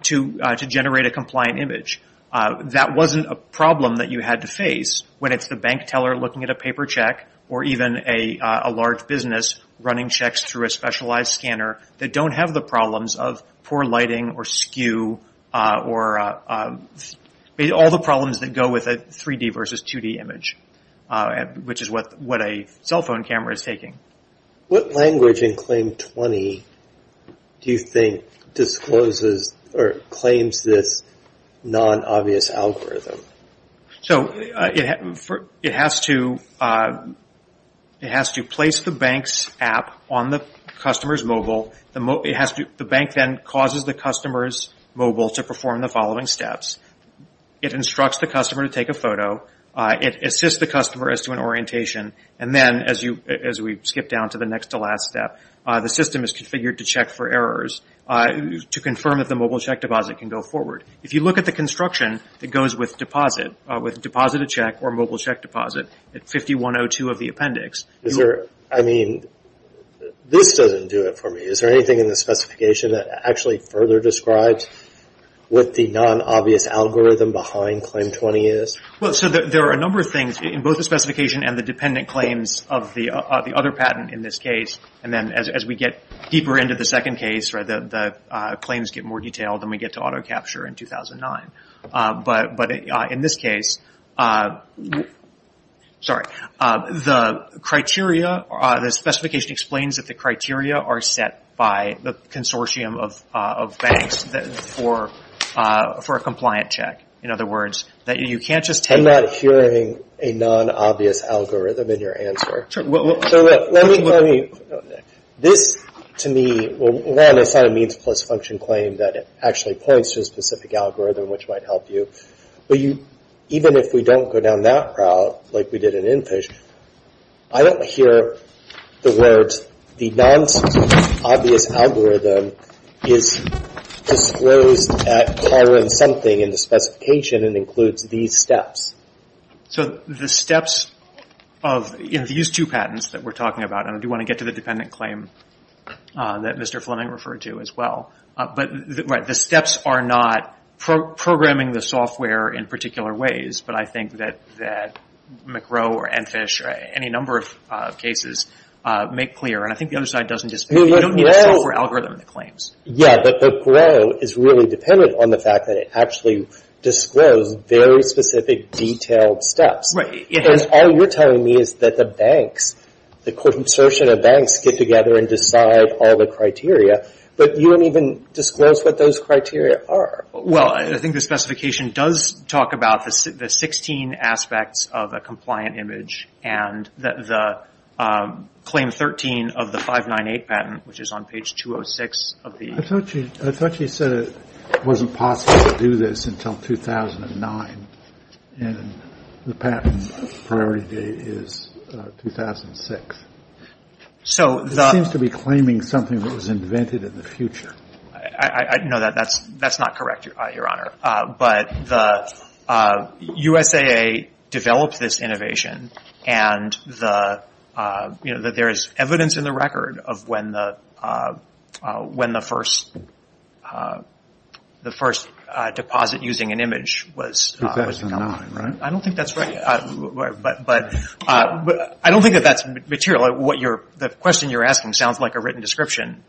– to generate a compliant image. That wasn't a problem that you had to face when it's the bank teller looking at a paper check, or even a large business running checks through a specialized scanner that don't have the problems of poor lighting or skew, or all the problems that go with a 3D versus 2D image, which is what a cell phone camera is taking. What language in Claim 20 do you think claims this non-obvious algorithm? It has to place the bank's app on the customer's mobile. The bank then causes the customer's mobile to perform the following steps. It instructs the customer to take a photo. It assists the customer as to an orientation. Then, as we skip down to the next-to-last step, the system is configured to check for errors to confirm if the mobile check deposit can go forward. If you look at the construction that goes with deposit, with deposit a check or mobile check deposit at 5102 of the appendix. This doesn't do it for me. Is there anything in the specification that actually further describes what the non-obvious algorithm behind Claim 20 is? There are a number of things in both the specification and the dependent claims of the other patent in this case. As we get deeper into the second case, the claims get more detailed and we get to auto capture in 2009. In this case, the specification explains that the criteria are set by the consortium of banks for a compliant check. I'm not hearing a non-obvious algorithm in your answer. This, to me, is not a means plus function claim that actually points to a specific algorithm which might help you. Even if we don't go down that route, like we did in Infish, I don't hear the words, non-obvious algorithm is disclosed at pattern something in the specification and includes these steps. The steps of these two patents that we're talking about, and I do want to get to the dependent claim that Mr. Fleming referred to as well. The steps are not programming the software in particular ways, but I think that McRow or Infish or any number of cases make clear. I think the other side doesn't disagree. You don't need a software algorithm in the claims. Yeah, but McRow is really dependent on the fact that it actually disclosed very specific detailed steps. Right. All you're telling me is that the banks, the consortium of banks get together and decide all the criteria, but you don't even disclose what those criteria are. Well, I think the specification does talk about the 16 aspects of a compliant image and the claim 13 of the 598 patent, which is on page 206 of the- I thought you said it wasn't possible to do this until 2009, and the patent priority date is 2006. It seems to be claiming something that was invented in the future. No, that's not correct, Your Honor. But the USAA developed this innovation, and there is evidence in the record of when the first deposit using an image was- 2009, right? I don't think that's right, but I don't think that that's material. The question you're asking sounds like a written description,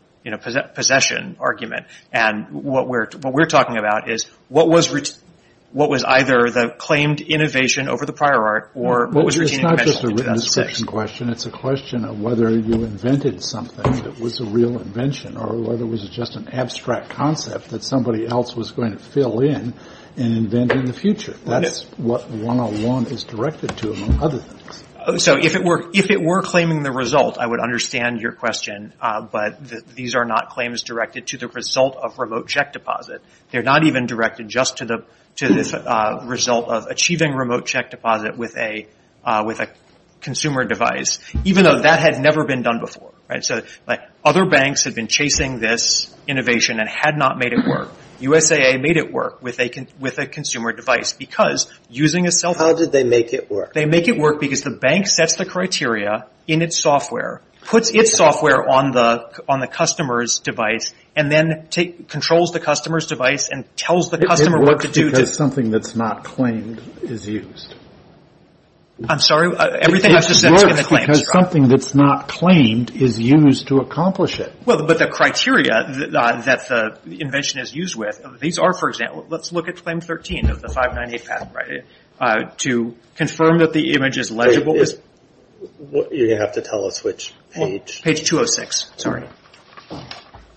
possession argument, and what we're talking about is what was either the claimed innovation over the prior art or- Well, it's not just a written description question. It's a question of whether you invented something that was a real invention or whether it was just an abstract concept that somebody else was going to fill in and invent in the future. That's what 101 is directed to, among other things. So if it were claiming the result, I would understand your question, but these are not claims directed to the result of remote check deposit. They're not even directed just to the result of achieving remote check deposit with a consumer device, even though that had never been done before. Other banks have been chasing this innovation and had not made it work. USAA made it work with a consumer device because using a self- How did they make it work? They make it work because the bank sets the criteria in its software, puts its software on the customer's device, and then controls the customer's device and tells the customer what to do. It works because something that's not claimed is used. I'm sorry? Everything has a sense when it claims, right? It works because something that's not claimed is used to accomplish it. Well, but the criteria that the invention is used with, these are, for example, let's look at claim 13 of the 598 patent, right, to confirm that the image is legible. You're going to have to tell us which page. Page 206, sorry.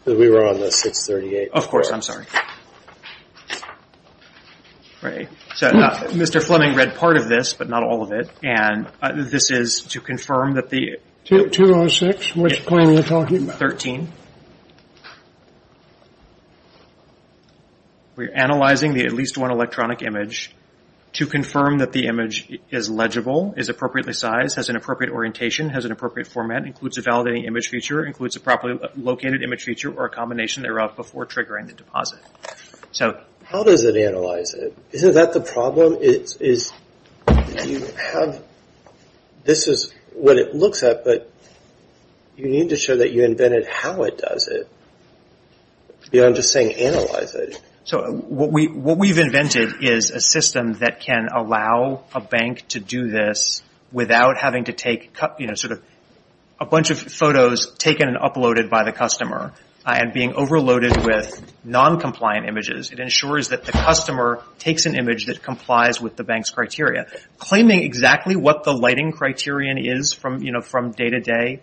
We were on the 638. Of course, I'm sorry. So Mr. Fleming read part of this, but not all of it, and this is to confirm that the- 206, which claim are you talking about? 13. We're analyzing at least one electronic image to confirm that the image is legible, is appropriately sized, has an appropriate orientation, has an appropriate format, includes a validating image feature, includes a properly located image feature, or a combination thereof before triggering the deposit. So how does it analyze it? Isn't that the problem? You have, this is what it looks at, but you need to show that you invented how it does it beyond just saying analyze it. So what we've invented is a system that can allow a bank to do this without having to take, you know, sort of a bunch of photos taken and uploaded by the customer and being overloaded with noncompliant images. It ensures that the customer takes an image that complies with the bank's criteria. Claiming exactly what the lighting criterion is from, you know, from day to day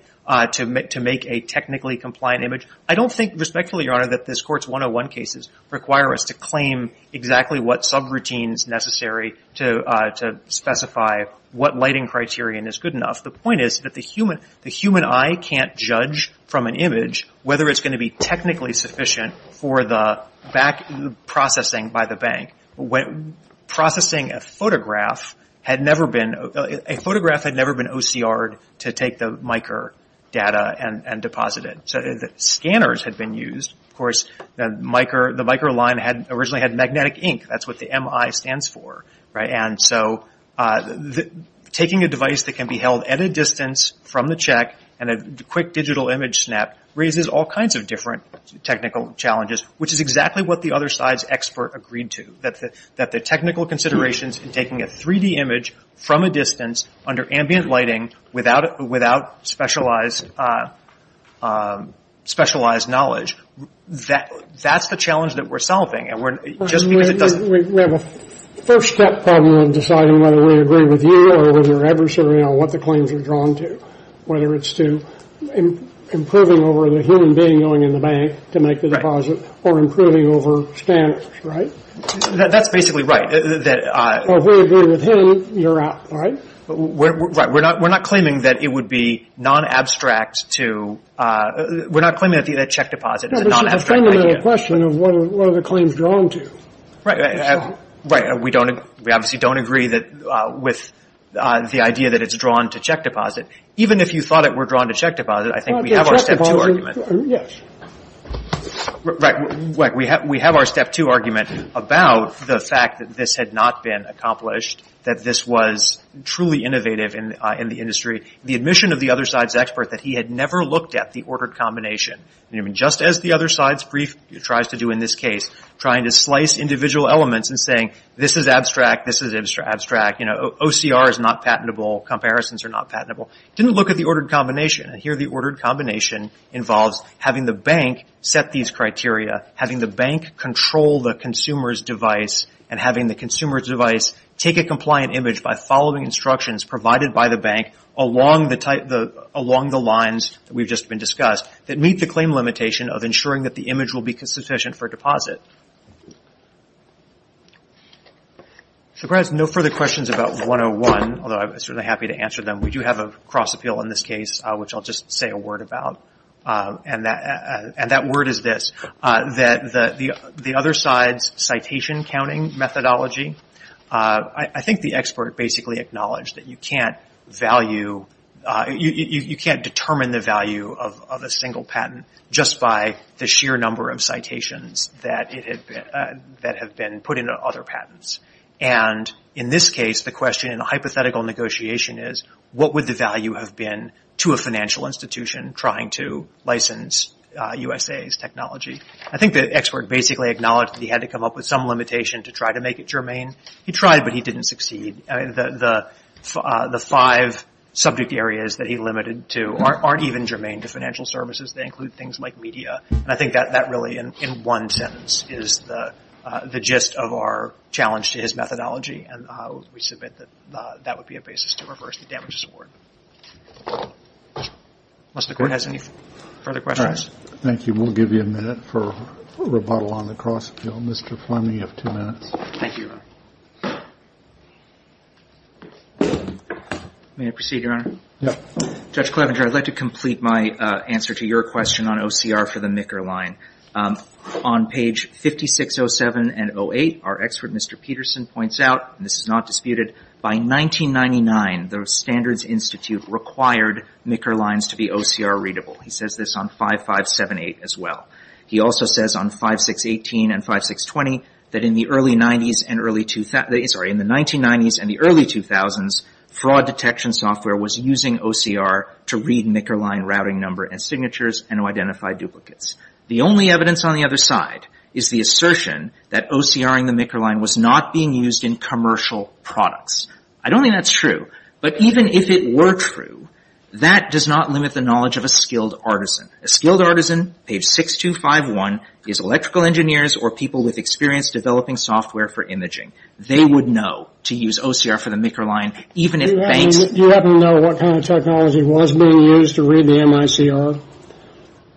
to make a technically compliant image, I don't think respectfully, Your Honor, that this Court's 101 cases require us to claim exactly what subroutines necessary to specify what lighting criterion is good enough. The point is that the human eye can't judge from an image whether it's going to be technically sufficient for the processing by the bank. Processing a photograph had never been, a photograph had never been OCR'd to take the micro data and deposit it. Scanners had been used. Of course, the micro line originally had magnetic ink. That's what the MI stands for, right? And so taking a device that can be held at a distance from the check and a quick digital image snap raises all kinds of different technical challenges, which is exactly what the other side's expert agreed to, that the technical considerations in taking a 3-D image from a distance under ambient lighting without specialized knowledge, that's the challenge that we're solving. We have a first step problem in deciding whether we agree with you on what the claims are drawn to, whether it's to improving over the human being going in the bank to make the deposit or improving over scanners, right? That's basically right. If we agree with him, you're out, right? We're not claiming that it would be non-abstract to, we're not claiming that the check deposit is a non-abstract idea. It's a question of what are the claims drawn to. Right. We obviously don't agree with the idea that it's drawn to check deposit. Even if you thought it were drawn to check deposit, I think we have our step two argument. Right. We have our step two argument about the fact that this had not been accomplished, that this was truly innovative in the industry. The admission of the other side's expert that he had never looked at the ordered combination, just as the other side's brief tries to do in this case, trying to slice individual elements and saying this is abstract, this is abstract. OCR is not patentable. Comparisons are not patentable. Didn't look at the ordered combination. Here the ordered combination involves having the bank set these criteria, having the bank control the consumer's device, and having the consumer's device take a compliant image by following instructions provided by the bank along the lines that we've just been discussed that meet the claim limitation of ensuring that the image will be sufficient for deposit. No further questions about 101, although I'm certainly happy to answer them. We do have a cross appeal in this case, which I'll just say a word about. That word is this, that the other side's citation counting methodology, I think the expert basically acknowledged that you can't value, you can't determine the value of a single patent just by the sheer number of citations that have been put into other patents. And in this case, the question in a hypothetical negotiation is, what would the value have been to a financial institution trying to license USA's technology? I think the expert basically acknowledged that he had to come up with some limitation to try to make it germane. He tried, but he didn't succeed. The five subject areas that he limited to aren't even germane to financial services. They include things like media. And I think that really in one sentence is the gist of our challenge to his methodology, and we submit that that would be a basis to reverse the damages award. Unless the Court has any further questions. Thank you. We'll give you a minute for rebuttal on the cross appeal. Mr. Fleming, you have two minutes. Thank you. May I proceed, Your Honor? Yes. Judge Clevenger, I'd like to complete my answer to your question on OCR for the Micker line. On page 5607 and 08, our expert, Mr. Peterson, points out, and this is not disputed, by 1999 the Standards Institute required Micker lines to be OCR readable. He says this on 5578 as well. He also says on 5618 and 5620 that in the early 90s and early 2000s, sorry, in the 1990s and the early 2000s, fraud detection software was using OCR to read Micker line routing number and signatures and to identify duplicates. The only evidence on the other side is the assertion that OCR in the Micker line was not being used in commercial products. I don't think that's true. But even if it were true, that does not limit the knowledge of a skilled artisan. A skilled artisan, page 6251, is electrical engineers or people with experience developing software for imaging. They would know to use OCR for the Micker line, even if banks Do you happen to know what kind of technology was being used to read the MICR?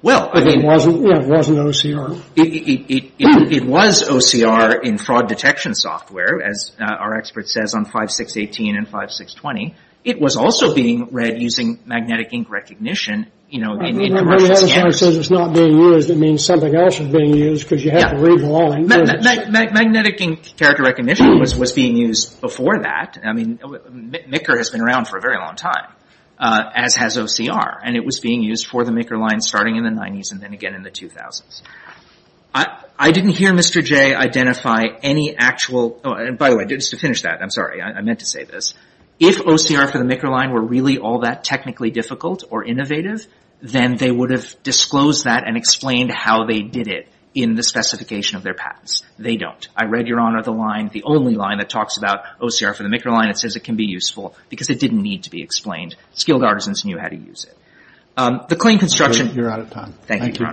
Well, again It wasn't OCR. It was OCR in fraud detection software, as our expert says on 5618 and 5620. It was also being read using magnetic ink recognition, you know, in commercial scanners. The other side says it's not being used. It means something else is being used because you have to read the line. Magnetic ink character recognition was being used before that. I mean, MICKR has been around for a very long time, as has OCR, and it was being used for the MICKR line starting in the 90s and then again in the 2000s. I didn't hear Mr. J identify any actual Oh, and by the way, just to finish that, I'm sorry, I meant to say this. If OCR for the MICKR line were really all that technically difficult or innovative, then they would have disclosed that and explained how they did it in the specification of their patents. They don't. I read, Your Honor, the line, the only line that talks about OCR for the MICKR line that says it can be useful because it didn't need to be explained. Skilled artisans knew how to use it. The claim construction You're out of time. Thank you, Your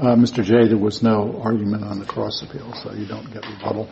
Honor. Mr. J, there was no argument on the cross appeal, so you don't get rebuttal.